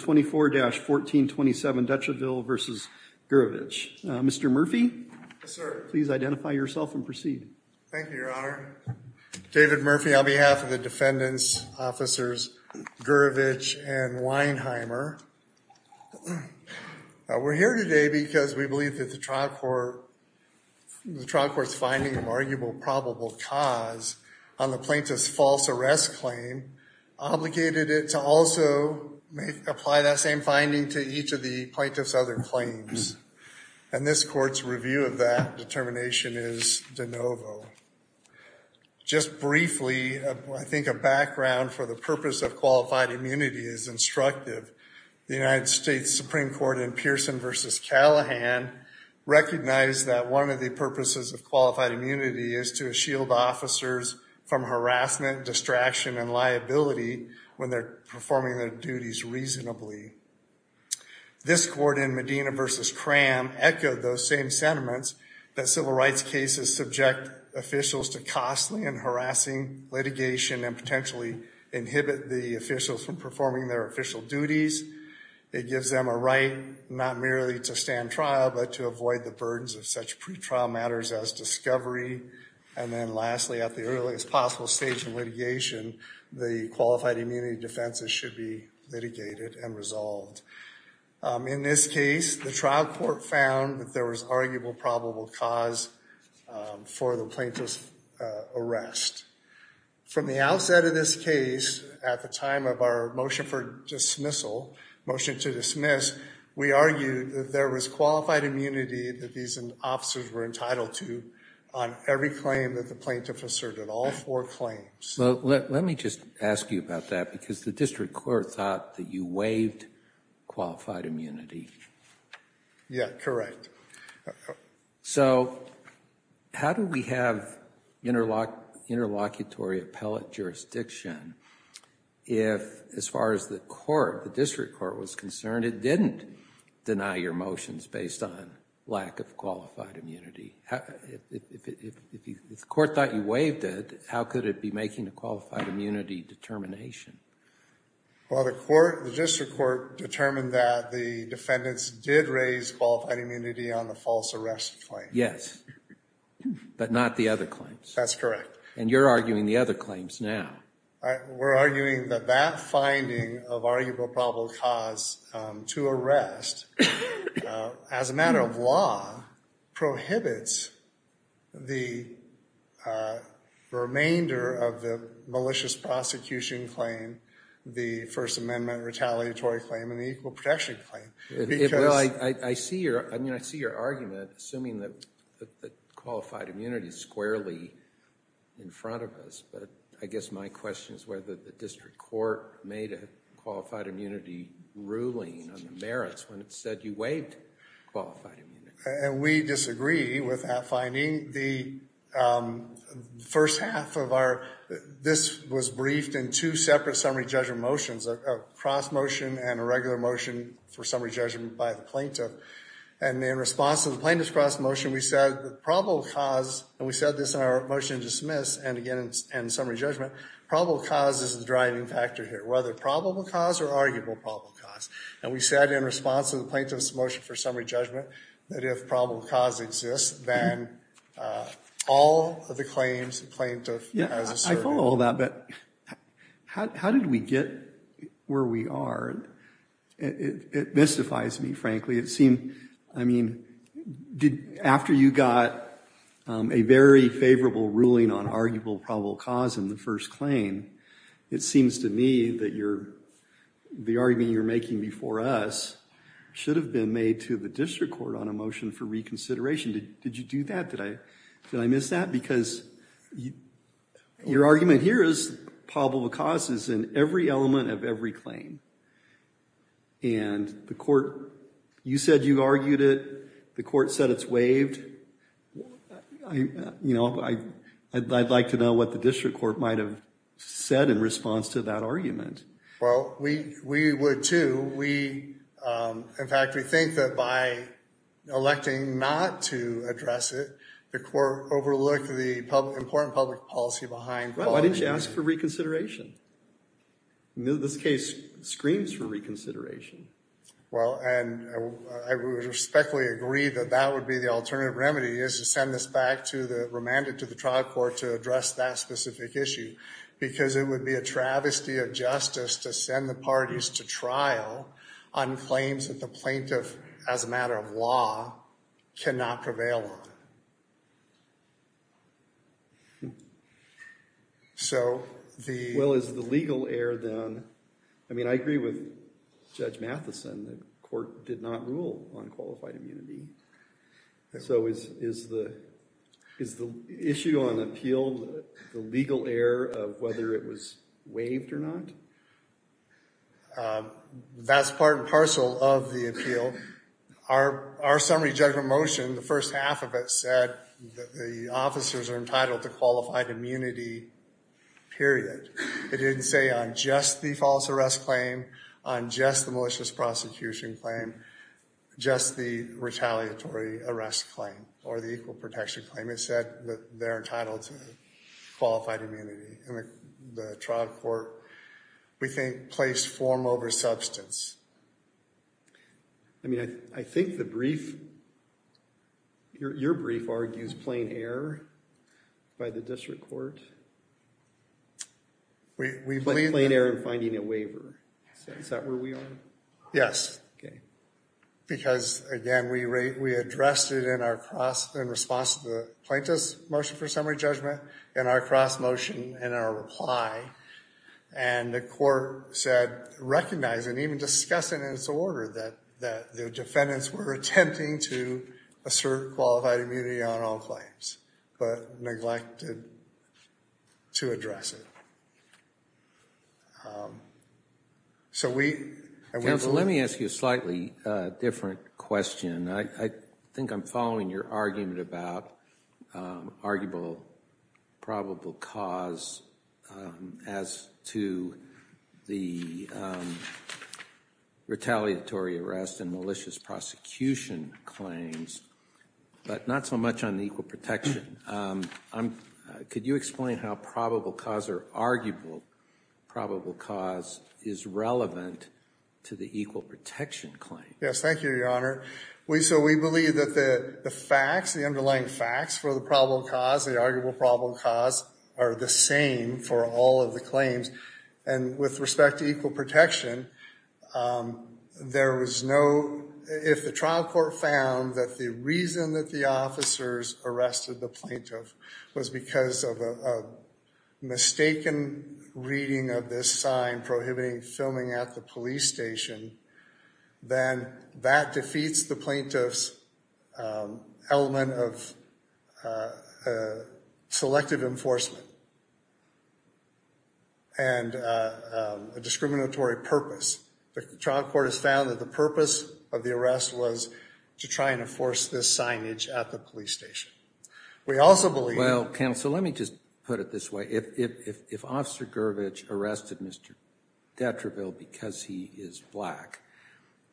24-1427 Dutreville v. Gurevich. Mr. Murphy, please identify yourself and proceed. Thank you, Your Honor. David Murphy on behalf of the defendants, officers Gurevich and Weinheimer. We're here today because we believe that the trial court, the trial court's finding of arguable probable cause on the plaintiff's false arrest claim obligated it to also apply that same finding to each of the plaintiff's other claims. And this court's review of that determination is de novo. Just briefly, I think a background for the purpose of qualified immunity is instructive. The United States Supreme Court in Pearson v. Callahan recognized that one of the purposes of qualified immunity is to shield officers from harassment, distraction, and liability when they're performing their duties reasonably. This court in Medina v. Cram echoed those same sentiments that civil rights cases subject officials to costly and harassing litigation and potentially inhibit the officials from performing their official duties. It gives them a right not merely to stand trial, but to avoid the burdens of such pre-trial matters as discovery. And then lastly, at the earliest possible stage of litigation, the qualified immunity defenses should be litigated and resolved. In this case, the trial court found that there was arguable probable cause for the plaintiff's arrest. From the outset of this case, at the time of our motion for dismissal, motion to dismiss, we argued that there was qualified immunity that these officers were entitled to on every claim that the plaintiff asserted, all four claims. Well, let me just ask you about that, because the district court thought that you waived qualified immunity. Yeah, correct. So how do we have interlocutory appellate jurisdiction if, as far as the court, the district court was concerned, it didn't deny your motions based on lack of qualified immunity? If the court thought you waived it, how could it be making a qualified immunity determination? Well, the district court determined that the defendants did raise qualified immunity on the false arrest claim. Yes, but not the other claims. That's correct. And you're arguing the other claims now. We're arguing that that finding of arguable probable cause to arrest, as a matter of law, prohibits the remainder of the malicious prosecution claim, the First Amendment retaliatory claim, and the equal protection claim. I see your argument, assuming that qualified immunity is squarely in front of us, but I guess my question is whether the district court made a qualified immunity ruling on the merits when it said you waived qualified immunity. And we disagree with that finding. The first half of our, this was briefed in two separate summary judgment motions, a cross motion and a regular motion for summary judgment by the plaintiff. And in response to the plaintiff's cross motion, we said the probable cause, and we said this in our motion to dismiss and again in summary judgment, probable cause is the driving factor here, whether probable cause or arguable probable cause. And we said in response to the plaintiff's motion for summary judgment that if probable cause exists, then all of the claims the plaintiff has asserted. I follow all that, but how did we get where we are? It mystifies me, frankly. It seemed, I mean, after you got a very favorable ruling on arguable probable cause in the first claim, it seems to me that the argument you're making before us should have been made to the district court on a motion for reconsideration. Did you do that? Did I miss that? Because your argument here is probable cause is in every element of every claim. And the court, you said you argued it. The court said it's waived. You know, I'd like to know what the district court might have said in response to that argument. Well, we would, too. In fact, we think that by electing not to address it, the court overlooked the important public policy behind it. Why didn't you ask for reconsideration? This case screams for reconsideration. Well, and I would respectfully agree that that would be the alternative remedy, is to send this back to the remanded to the trial court to address that specific issue, because it would be a travesty of justice to send the parties to trial on claims that the plaintiff, as a matter of law, cannot prevail on. So the- I mean, I agree with Judge Matheson. The court did not rule on qualified immunity. So is the issue on appeal the legal error of whether it was waived or not? That's part and parcel of the appeal. Our summary judgment motion, the first half of it said that the officers are entitled to qualified immunity, period. It didn't say on just the false arrest claim, on just the malicious prosecution claim, just the retaliatory arrest claim or the equal protection claim. It said that they're entitled to qualified immunity. And the trial court, we think, placed form over substance. I mean, I think the brief, your brief argues plain error by the district court. We believe- Plain error in finding a waiver. Is that where we are? Yes. Okay. Because, again, we addressed it in our cross, in response to the plaintiff's motion for summary judgment, in our cross motion, in our reply. And the court said, recognizing, even discussing in its order that the defendants were attempting to assert qualified immunity on all claims, but neglected to address it. So we- Counsel, let me ask you a slightly different question. I think I'm following your argument about arguable, probable cause as to the retaliatory arrest and malicious prosecution claims, but not so much on the equal protection. Could you explain how probable cause or arguable probable cause is relevant to the equal protection claim? Yes, thank you, Your Honor. So we believe that the facts, the underlying facts for the probable cause, the arguable probable cause, are the same for all of the claims. And with respect to equal protection, there was no- If the trial court found that the reason that the officers arrested the plaintiff was because of a mistaken reading of this sign prohibiting filming at the police station, then that defeats the plaintiff's element of selective enforcement and a discriminatory purpose. The trial court has found that the purpose of the arrest was to try and enforce this signage at the police station. We also believe-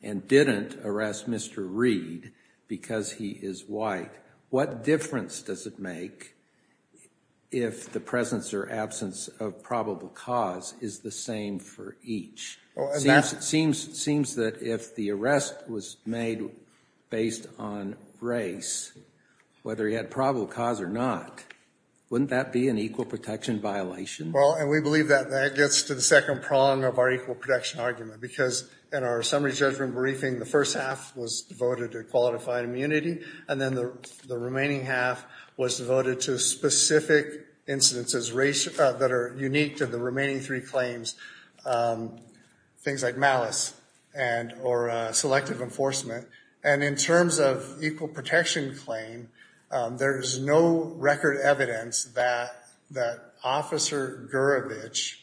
And didn't arrest Mr. Reed because he is white. What difference does it make if the presence or absence of probable cause is the same for each? It seems that if the arrest was made based on race, whether he had probable cause or not, wouldn't that be an equal protection violation? Well, and we believe that that gets to the second prong of our equal protection argument. Because in our summary judgment briefing, the first half was devoted to qualified immunity, and then the remaining half was devoted to specific incidences that are unique to the remaining three claims, things like malice and or selective enforcement. And in terms of equal protection claim, there is no record evidence that Officer Gurevich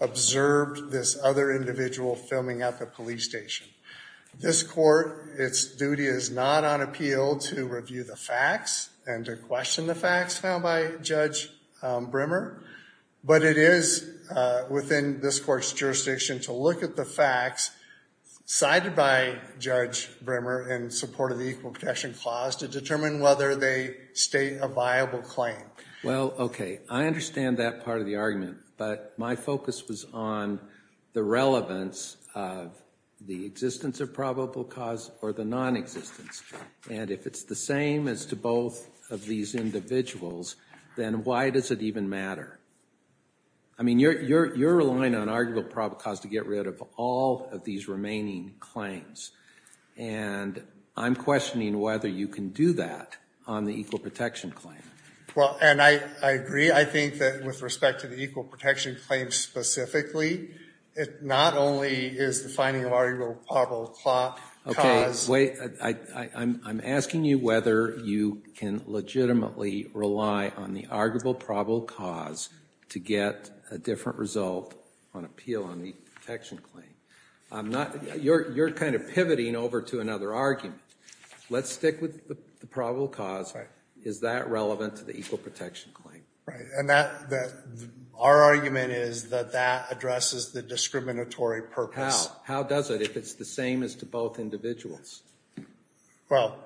observed this other individual filming at the police station. This court, its duty is not on appeal to review the facts and to question the facts found by Judge Brimmer. But it is within this court's jurisdiction to look at the facts cited by Judge Brimmer in support of the equal protection clause to determine whether they state a viable claim. Well, okay, I understand that part of the argument. But my focus was on the relevance of the existence of probable cause or the nonexistence. And if it's the same as to both of these individuals, then why does it even matter? I mean, you're relying on arguable probable cause to get rid of all of these remaining claims. And I'm questioning whether you can do that on the equal protection claim. Well, and I agree. I think that with respect to the equal protection claim specifically, it not only is defining arguable probable cause. Okay, wait, I'm asking you whether you can legitimately rely on the arguable probable cause to get a different result on appeal on the protection claim. You're kind of pivoting over to another argument. Let's stick with the probable cause. Is that relevant to the equal protection claim? Right, and our argument is that that addresses the discriminatory purpose. Well, how does it if it's the same as to both individuals? Well,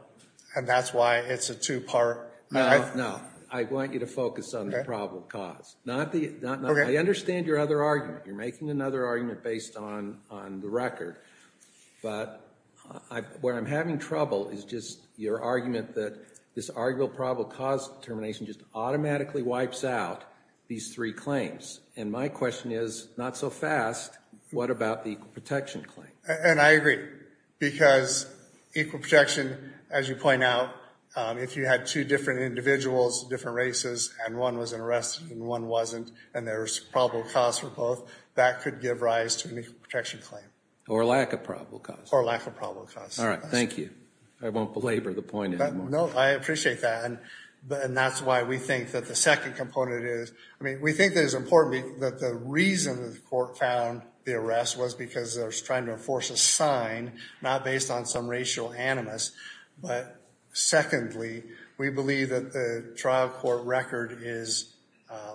and that's why it's a two-part. No, no. I want you to focus on the probable cause. I understand your other argument. You're making another argument based on the record. But where I'm having trouble is just your argument that this arguable probable cause determination just automatically wipes out these three claims. And my question is, not so fast, what about the equal protection claim? And I agree. Because equal protection, as you point out, if you had two different individuals, different races, and one was arrested and one wasn't, and there was probable cause for both, that could give rise to an equal protection claim. Or lack of probable cause. Or lack of probable cause. All right, thank you. I won't belabor the point anymore. No, I appreciate that. And that's why we think that the second component is, I mean, we think that it's important that the reason that the court found the arrest was because they were trying to enforce a sign, not based on some racial animus. But secondly, we believe that the trial court record is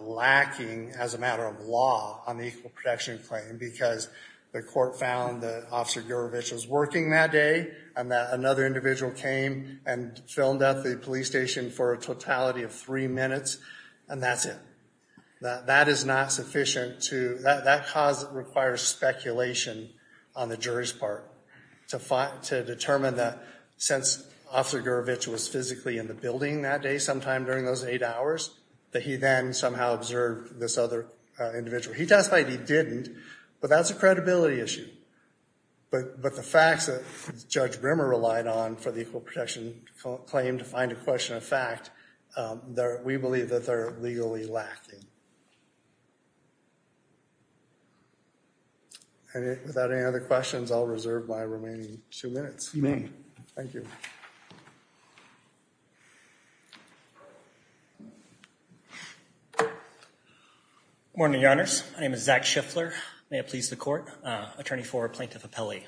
lacking as a matter of law on the equal protection claim. Because the court found that Officer Gurevich was working that day, and that another individual came and filmed at the police station for a totality of three minutes, and that's it. That is not sufficient to, that cause requires speculation on the jury's part to determine that since Officer Gurevich was physically in the building that day sometime during those eight hours, that he then somehow observed this other individual. He testified he didn't, but that's a credibility issue. But the facts that Judge Brimmer relied on for the equal protection claim to find a question of fact, we believe that they're legally lacking. And without any other questions, I'll reserve my remaining two minutes. You may. Thank you. Good morning, Your Honors. My name is Zach Schiffler. May it please the court. Attorney for Plaintiff Appellee.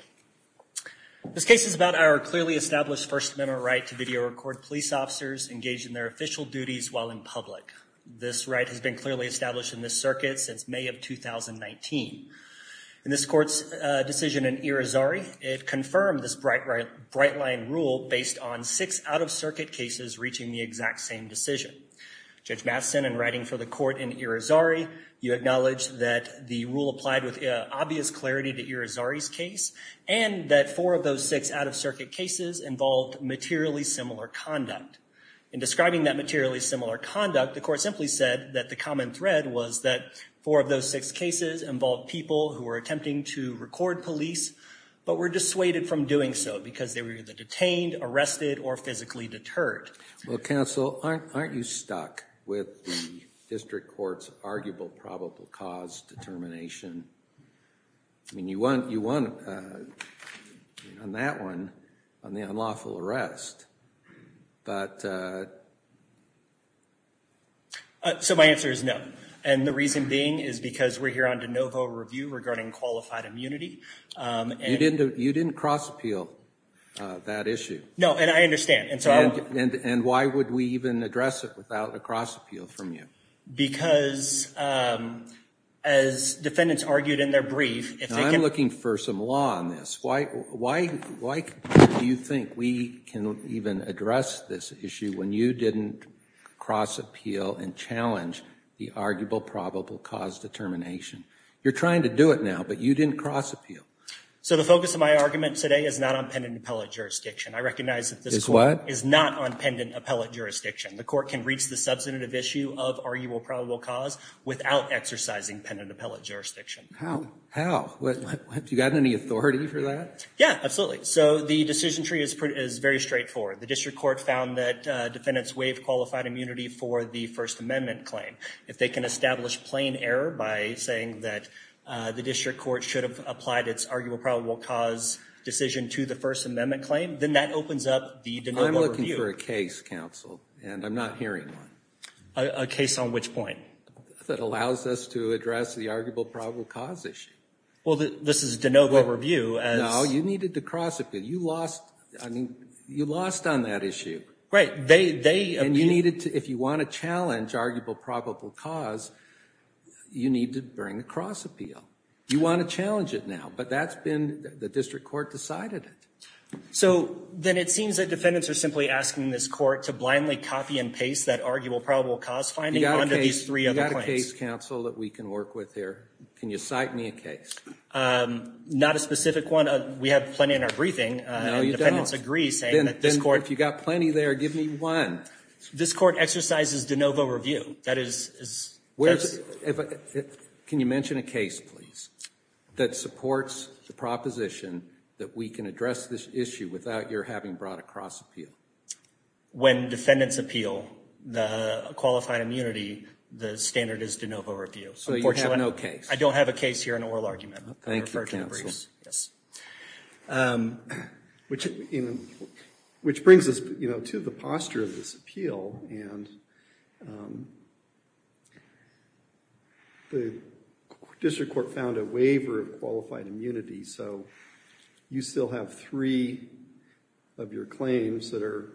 This case is about our clearly established First Amendment right to video record police officers engaged in their official duties while in public. This right has been clearly established in this circuit since May of 2019. In this court's decision in Irizarry, it confirmed this bright line rule based on six out-of-circuit cases reaching the exact same decision. Judge Matheson, in writing for the court in Irizarry, you acknowledged that the rule applied with obvious clarity to Irizarry's case, and that four of those six out-of-circuit cases involved materially similar conduct. In describing that materially similar conduct, the court simply said that the common thread was that four of those six cases involved people who were attempting to record police, but were dissuaded from doing so because they were either detained, arrested, or physically deterred. Well, counsel, aren't you stuck with the district court's arguable probable cause determination? I mean, you won on that one, on the unlawful arrest. So my answer is no, and the reason being is because we're here on de novo review regarding qualified immunity. You didn't cross-appeal that issue. No, and I understand. And why would we even address it without a cross-appeal from you? Because, as defendants argued in their brief, if they can... Now, I'm looking for some law on this. Why do you think we can even address this issue when you didn't cross-appeal and challenge the arguable probable cause determination? You're trying to do it now, but you didn't cross-appeal. So the focus of my argument today is not on pendant appellate jurisdiction. I recognize that this court... Is not on pendant appellate jurisdiction. The court can reach the substantive issue of arguable probable cause without exercising pendant appellate jurisdiction. How? How? Do you have any authority for that? Yeah, absolutely. So the decision tree is very straightforward. The district court found that defendants waived qualified immunity for the First Amendment claim. If they can establish plain error by saying that the district court should have applied its arguable probable cause decision to the First Amendment claim, then that opens up the de novo review. I'm looking for a case, counsel, and I'm not hearing one. A case on which point? That allows us to address the arguable probable cause issue. Well, this is de novo review as... No, you needed to cross-appeal. You lost on that issue. Right. They... And you needed to... If you want to challenge arguable probable cause, you need to bring a cross-appeal. You want to challenge it now, but that's been... The district court decided it. So then it seems that defendants are simply asking this court to blindly copy and paste that arguable probable cause finding under these three other claims. You've got a case, counsel, that we can work with here. Can you cite me a case? Not a specific one. We have plenty in our briefing. No, you don't. And defendants agree saying that this court... Then if you've got plenty there, give me one. This court exercises de novo review. That is... Can you mention a case, please, that supports the proposition that we can address this issue without your having brought a cross-appeal? When defendants appeal the qualified immunity, the standard is de novo review. So you have no case. I don't have a case here in oral argument. Thank you, counsel. Yes. Which brings us to the posture of this appeal. And the district court found a waiver of qualified immunity. So you still have three of your claims that are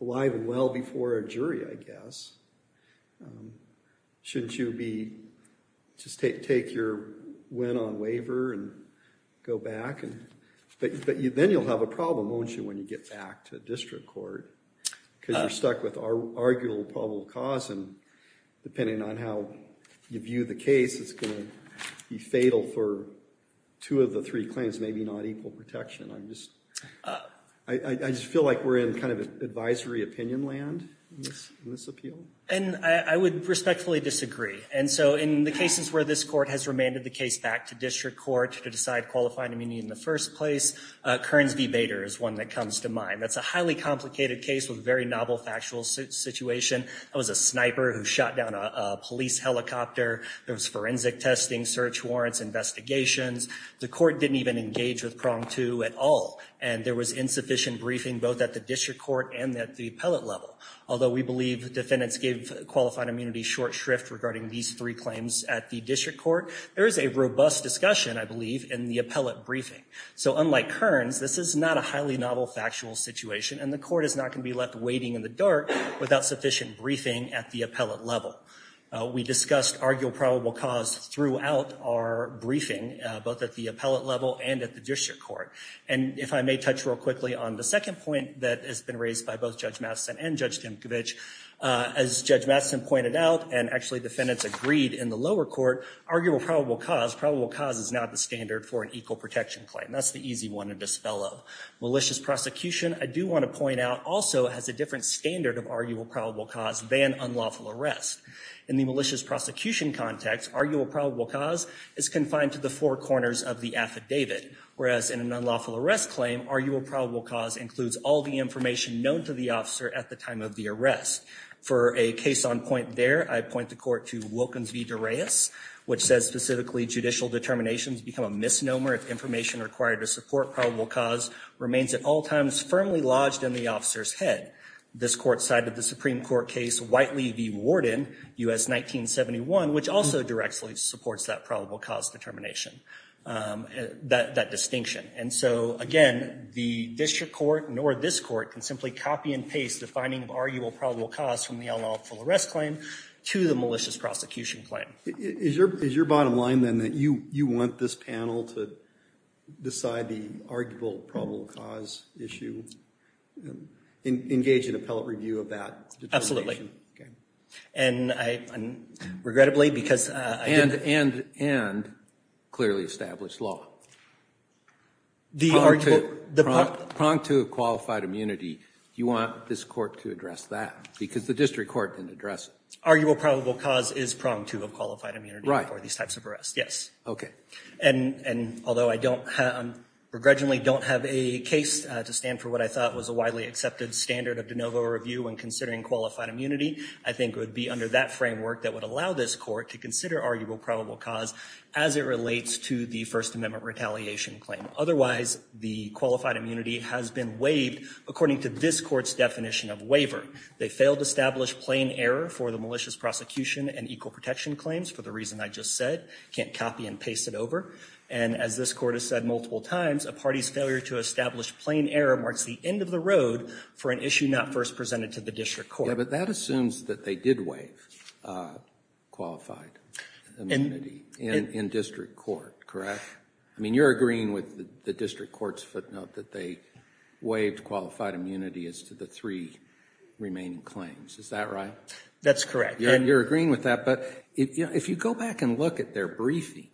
alive and well before a jury, I guess. Shouldn't you be... Just take your win on waiver and go back? But then you'll have a problem, won't you, when you get back to district court? Because you're stuck with arguable probable cause. And depending on how you view the case, it's going to be fatal for two of the three claims, maybe not equal protection. I just feel like we're in kind of advisory opinion land in this appeal. And I would respectfully disagree. And so in the cases where this court has remanded the case back to district court to decide qualified immunity in the first place, Kearns v. Bader is one that comes to mind. That's a highly complicated case with a very novel factual situation. That was a sniper who shot down a police helicopter. There was forensic testing, search warrants, investigations. The court didn't even engage with prong two at all. And there was insufficient briefing both at the district court and at the appellate level. Although we believe defendants gave qualified immunity short shrift regarding these three claims at the district court, there is a robust discussion, I believe, in the appellate briefing. So unlike Kearns, this is not a highly novel factual situation. And the court is not going to be left waiting in the dark without sufficient briefing at the appellate level. We discussed arguable probable cause throughout our briefing, both at the appellate level and at the district court. And if I may touch real quickly on the second point that has been raised by both Judge Matheson and Judge Dimkovich, as Judge Matheson pointed out and actually defendants agreed in the lower court, arguable probable cause, probable cause is not the standard for an equal protection claim. That's the easy one to dispel of. Malicious prosecution, I do want to point out, also has a different standard of arguable probable cause than unlawful arrest. In the malicious prosecution context, arguable probable cause is confined to the four corners of the affidavit. Whereas in an unlawful arrest claim, arguable probable cause includes all the information known to the officer at the time of the arrest. For a case on point there, I point the court to Wilkins v. Dureus, which says specifically judicial determinations become a misnomer if information required to support probable cause remains at all times firmly lodged in the officer's head. This court cited the Supreme Court case Whiteley v. Warden, U.S. 1971, which also directly supports that probable cause determination, that distinction. And so again, the district court nor this court can simply copy and paste the finding of arguable probable cause from the unlawful arrest claim to the malicious prosecution claim. Is your bottom line then that you want this panel to decide the arguable probable cause issue? Engage in appellate review of that determination? And regrettably, because I didn't... And clearly establish law. The arguable... Prong to a qualified immunity. You want this court to address that? Because the district court can address it. Arguable probable cause is prong to a qualified immunity for these types of arrests. Yes. Okay. And although I don't have... Regrettably don't have a case to stand for what I thought was a widely accepted standard of de novo review when considering qualified immunity, I think it would be under that framework that would allow this court to consider arguable probable cause as it relates to the First Amendment retaliation claim. Otherwise, the qualified immunity has been waived according to this court's definition of waiver. They failed to establish plain error for the malicious prosecution and equal protection claims for the reason I just said. Can't copy and paste it over. And as this court has said multiple times, a party's failure to establish plain error marks the end of the road for an issue not first presented to the district court. Yeah, but that assumes that they did waive qualified immunity. In district court, correct? I mean, you're agreeing with the district court's footnote that they waived qualified immunity as to the three remaining claims. Is that right? That's correct. You're agreeing with that, but if you go back and look at their briefing,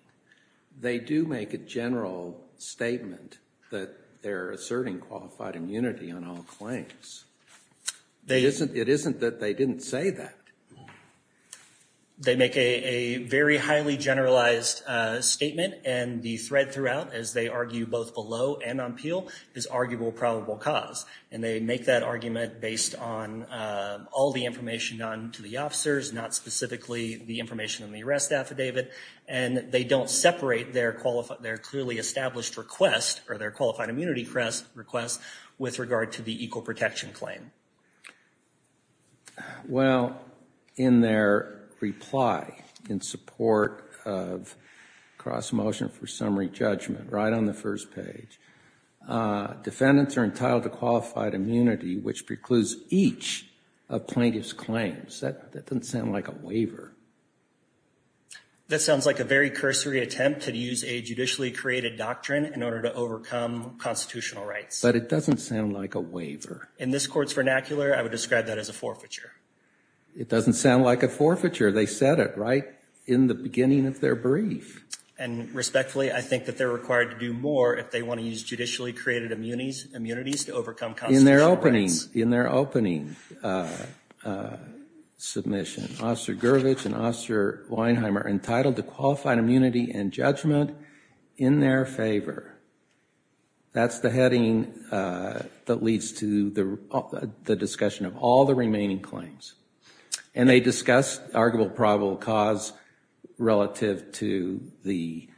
they do make a general statement that they're asserting qualified immunity on all claims. It isn't that they didn't say that. They make a very highly generalized statement and the thread throughout, as they argue both below and on Peel, is arguable probable cause. And they make that argument based on all the information done to the officers, not specifically the information on the arrest affidavit. And they don't separate their clearly established request or their qualified immunity request with regard to the equal protection claim. Well, in their reply in support of cross-motion for summary judgment, right on the first page, defendants are entitled to qualified immunity which precludes each of plaintiff's claims. That doesn't sound like a waiver. That sounds like a very cursory attempt to use a judicially created doctrine in order to overcome constitutional rights. But it doesn't sound like a waiver. In this court's vernacular, I would describe that as a forfeiture. It doesn't sound like a forfeiture. They said it right in the beginning of their brief. And respectfully, I think that they're required to do more if they want to use judicially created immunities to overcome constitutional rights. In their opening submission, Officer Gurvich and Officer Weinheim are entitled to qualified immunity and judgment in their favor. That's the heading that leads to the discussion of all the remaining claims. And they discuss arguable probable cause relative to the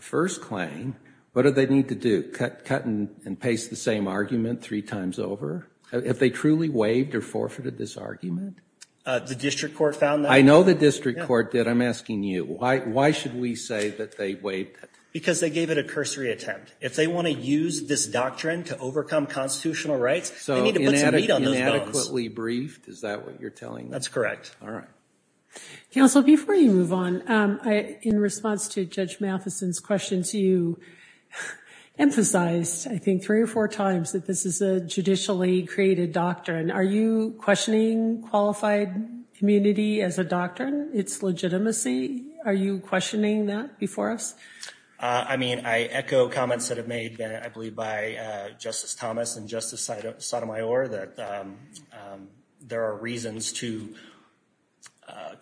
first claim. What do they need to do? Cut and paste the same argument three times over? Have they truly waived or forfeited this argument? The district court found that? I know the district court did. I'm asking you. Why should we say that they waived it? Because they gave it a cursory attempt. If they want to use this doctrine to overcome constitutional rights, they need to put some meat on those bones. So inadequately briefed, is that what you're telling me? That's correct. All right. Counsel, before you move on, in response to Judge Matheson's questions, you emphasized, I think, three or four times that this is a judicially created doctrine. Are you questioning qualified immunity as a doctrine, its legitimacy? Are you questioning that before us? I mean, I echo comments that have been made, I believe, by Justice Thomas and Justice Sotomayor, that there are reasons to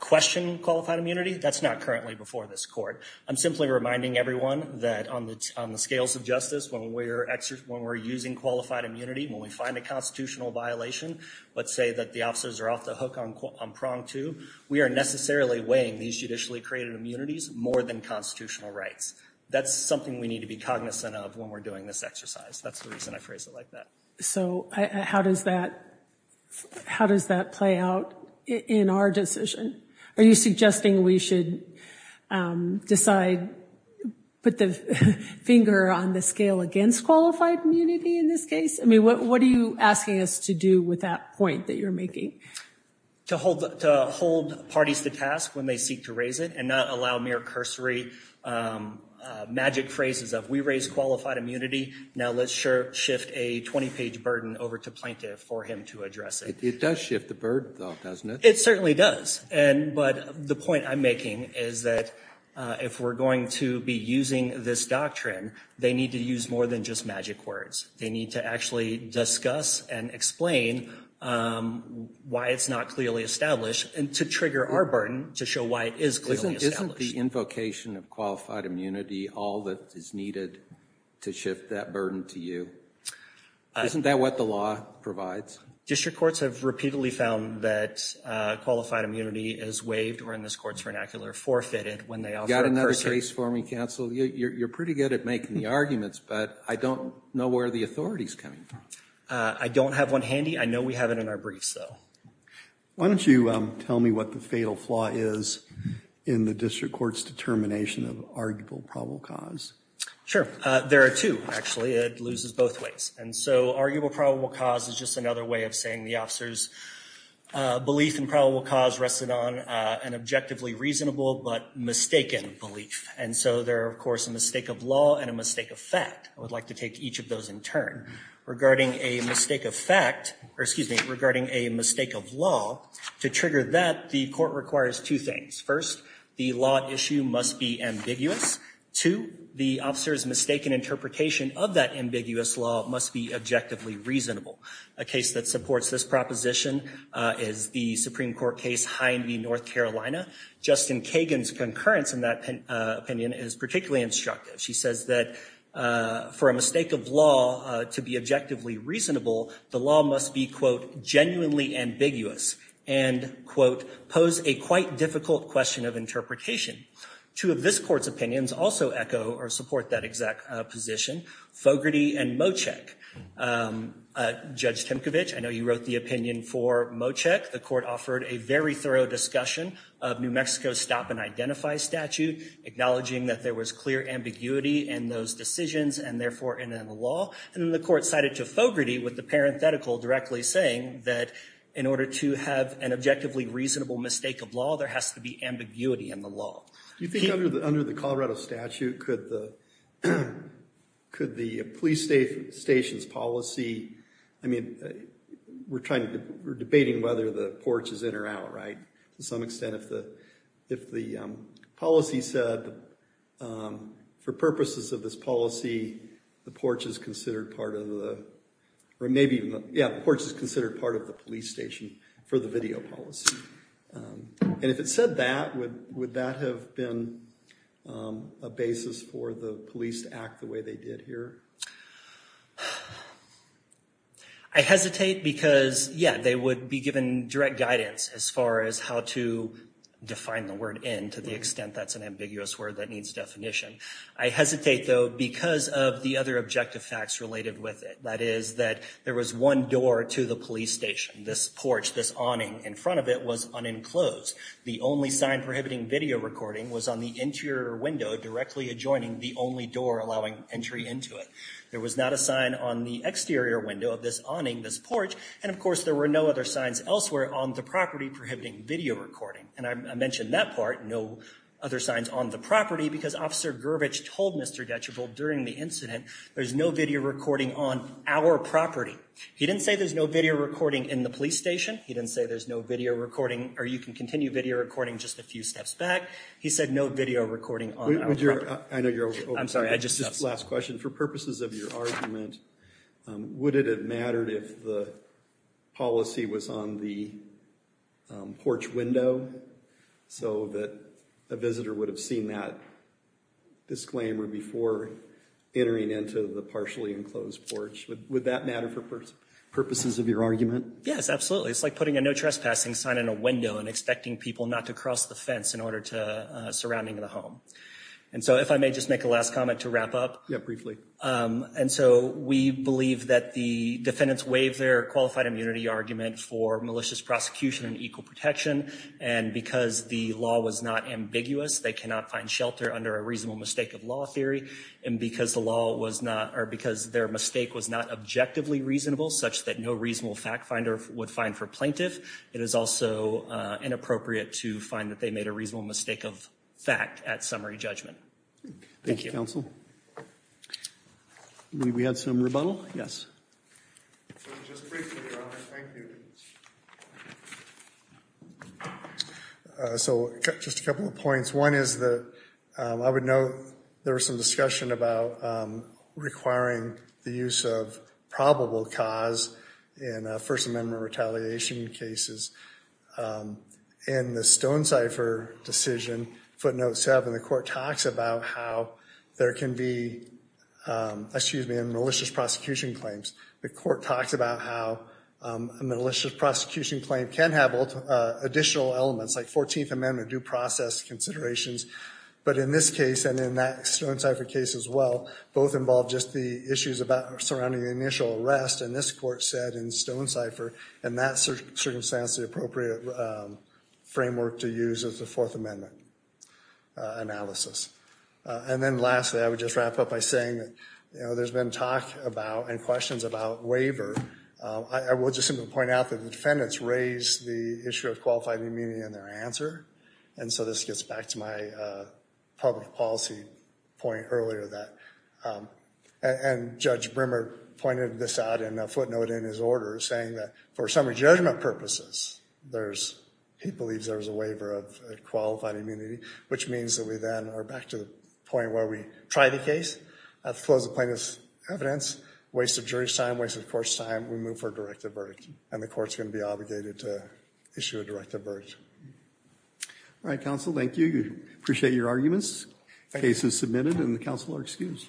question qualified immunity. That's not currently before this court. I'm simply reminding everyone that on the scales of justice, when we're using qualified immunity, when we find a constitutional violation, let's say that the officers are off the hook on prong two, we are necessarily weighing these judicially created immunities more than constitutional rights. That's something we need to be cognizant of when we're doing this exercise. That's the reason I phrase it like that. So how does that play out in our decision? Are you suggesting we should decide, put the finger on the scale against qualified immunity in this case? I mean, what are you asking us to do with that point that you're making? To hold parties to task when they seek to raise it and not allow mere cursory magic phrases of, we raise qualified immunity, now let's shift a 20-page burden over to plaintiff for him to address it. It does shift the burden, though, doesn't it? It certainly does, but the point I'm making is that if we're going to be using this doctrine, they need to use more than just magic words. They need to actually discuss and explain why it's not clearly established and to trigger our burden to show why it is clearly established. Isn't the invocation of qualified immunity all that is needed to shift that burden to you? Isn't that what the law provides? District courts have repeatedly found that qualified immunity is waived or, in this court's vernacular, forfeited when they offer a cursory... You got another case for me, counsel? You're pretty good at making the arguments, but I don't know where the authority's coming from. I don't have one handy. I know we have it in our briefs, though. Why don't you tell me what the fatal flaw is in the district court's determination of arguable probable cause? Sure. There are two, actually. It loses both ways. And so arguable probable cause is just another way of saying the officer's belief in probable cause rested on an objectively reasonable but mistaken belief. And so there are, of course, a mistake of law and a mistake of fact. I would like to take each of those in turn. Regarding a mistake of fact... Excuse me. Regarding a mistake of law, to trigger that, the court requires two things. First, the law at issue must be ambiguous. Two, the officer's mistaken interpretation of that ambiguous law must be objectively reasonable. A case that supports this proposition is the Supreme Court case Hind v. North Carolina. Justin Kagan's concurrence in that opinion is particularly instructive. She says that for a mistake of law to be objectively reasonable, the law must be, quote, genuinely ambiguous and, quote, pose a quite difficult question of interpretation. Two of this court's opinions also echo or support that exact position, Fogarty and Moczek. Judge Timkovich, I know you wrote the opinion for Moczek. The court offered a very thorough discussion of New Mexico's stop and identify statute, acknowledging that there was clear ambiguity in those decisions and therefore in the law. And then the court cited to Fogarty with the parenthetical directly saying that in order to have an objectively reasonable mistake of law, there has to be ambiguity in the law. Do you think under the Colorado statute could the police station's policy, I mean, we're debating whether the porch is in or out, right, to some extent if the policy said for purposes of this policy, the porch is considered part of the police station for the video policy. And if it said that, would that have been a basis for the police to act the way they did here? I hesitate because, yeah, they would be given direct guidance as far as how to define the word in to the extent that's an ambiguous word that needs definition. I hesitate, though, because of the other objective facts related with it. That is that there was one door to the police station. This porch, this awning in front of it was unenclosed. The only sign prohibiting video recording was on the interior window directly adjoining the only door allowing entry into it. There was not a sign on the exterior window of this awning, this porch. And, of course, there were no other signs elsewhere on the property prohibiting video recording. And I mentioned that part, no other signs on the property, because Officer Gervich told Mr. Detchevill during the incident, there's no video recording on our property. He didn't say there's no video recording in the police station. He didn't say there's no video recording, or you can continue video recording just a few steps back. He said no video recording on our property. I know you're over. I'm sorry, I just got something. Last question, for purposes of your argument, would it have mattered if the policy was on the porch window so that a visitor would have seen that disclaimer before entering into the partially enclosed porch? Would that matter for purposes of your argument? Yes, absolutely. It's like putting a no trespassing sign in a window and expecting people not to cross the fence in order to, surrounding the home. And so if I may just make a last comment to wrap up. Yeah, briefly. And so we believe that the defendants waived their qualified immunity argument for malicious prosecution and equal protection. And because the law was not ambiguous, they cannot find shelter under a reasonable mistake of law theory. And because the law was not, or because their mistake was not objectively reasonable, such that no reasonable fact finder would find for plaintiff, it is also inappropriate to find that they made a reasonable mistake of fact at summary judgment. Thank you. Thank you, counsel. We had some rebuttal? Yes. So just briefly, Your Honor, thank you. So just a couple of points. One is that I would note there was some discussion about requiring the use of probable cause in First Amendment retaliation cases. In the Stonecipher decision, footnote 7, the court talks about how there can be, excuse me, malicious prosecution claims. The court talks about how a malicious prosecution claim can have additional elements, like 14th Amendment due process considerations. But in this case and in that Stonecipher case as well, both involve just the issues surrounding the initial arrest. And this court said in Stonecipher in that circumstance, the appropriate framework to use is the Fourth Amendment analysis. And then lastly, I would just wrap up by saying that, you know, there's been talk about and questions about waiver. I will just simply point out that the defendants raised the issue of qualified immunity in their answer. And so this gets back to my public policy point earlier that, and Judge Brimmer pointed this out in a footnote in his order, saying that for summary judgment purposes, he believes there's a waiver of qualified immunity, which means that we then are back to the point where we try the case, have to close the plaintiff's evidence, waste of jury's time, waste of the court's time, we move for a directive verdict. And the court's going to be obligated to issue a directive verdict. All right, counsel, thank you. Appreciate your arguments. Case is submitted and the counsel are excused.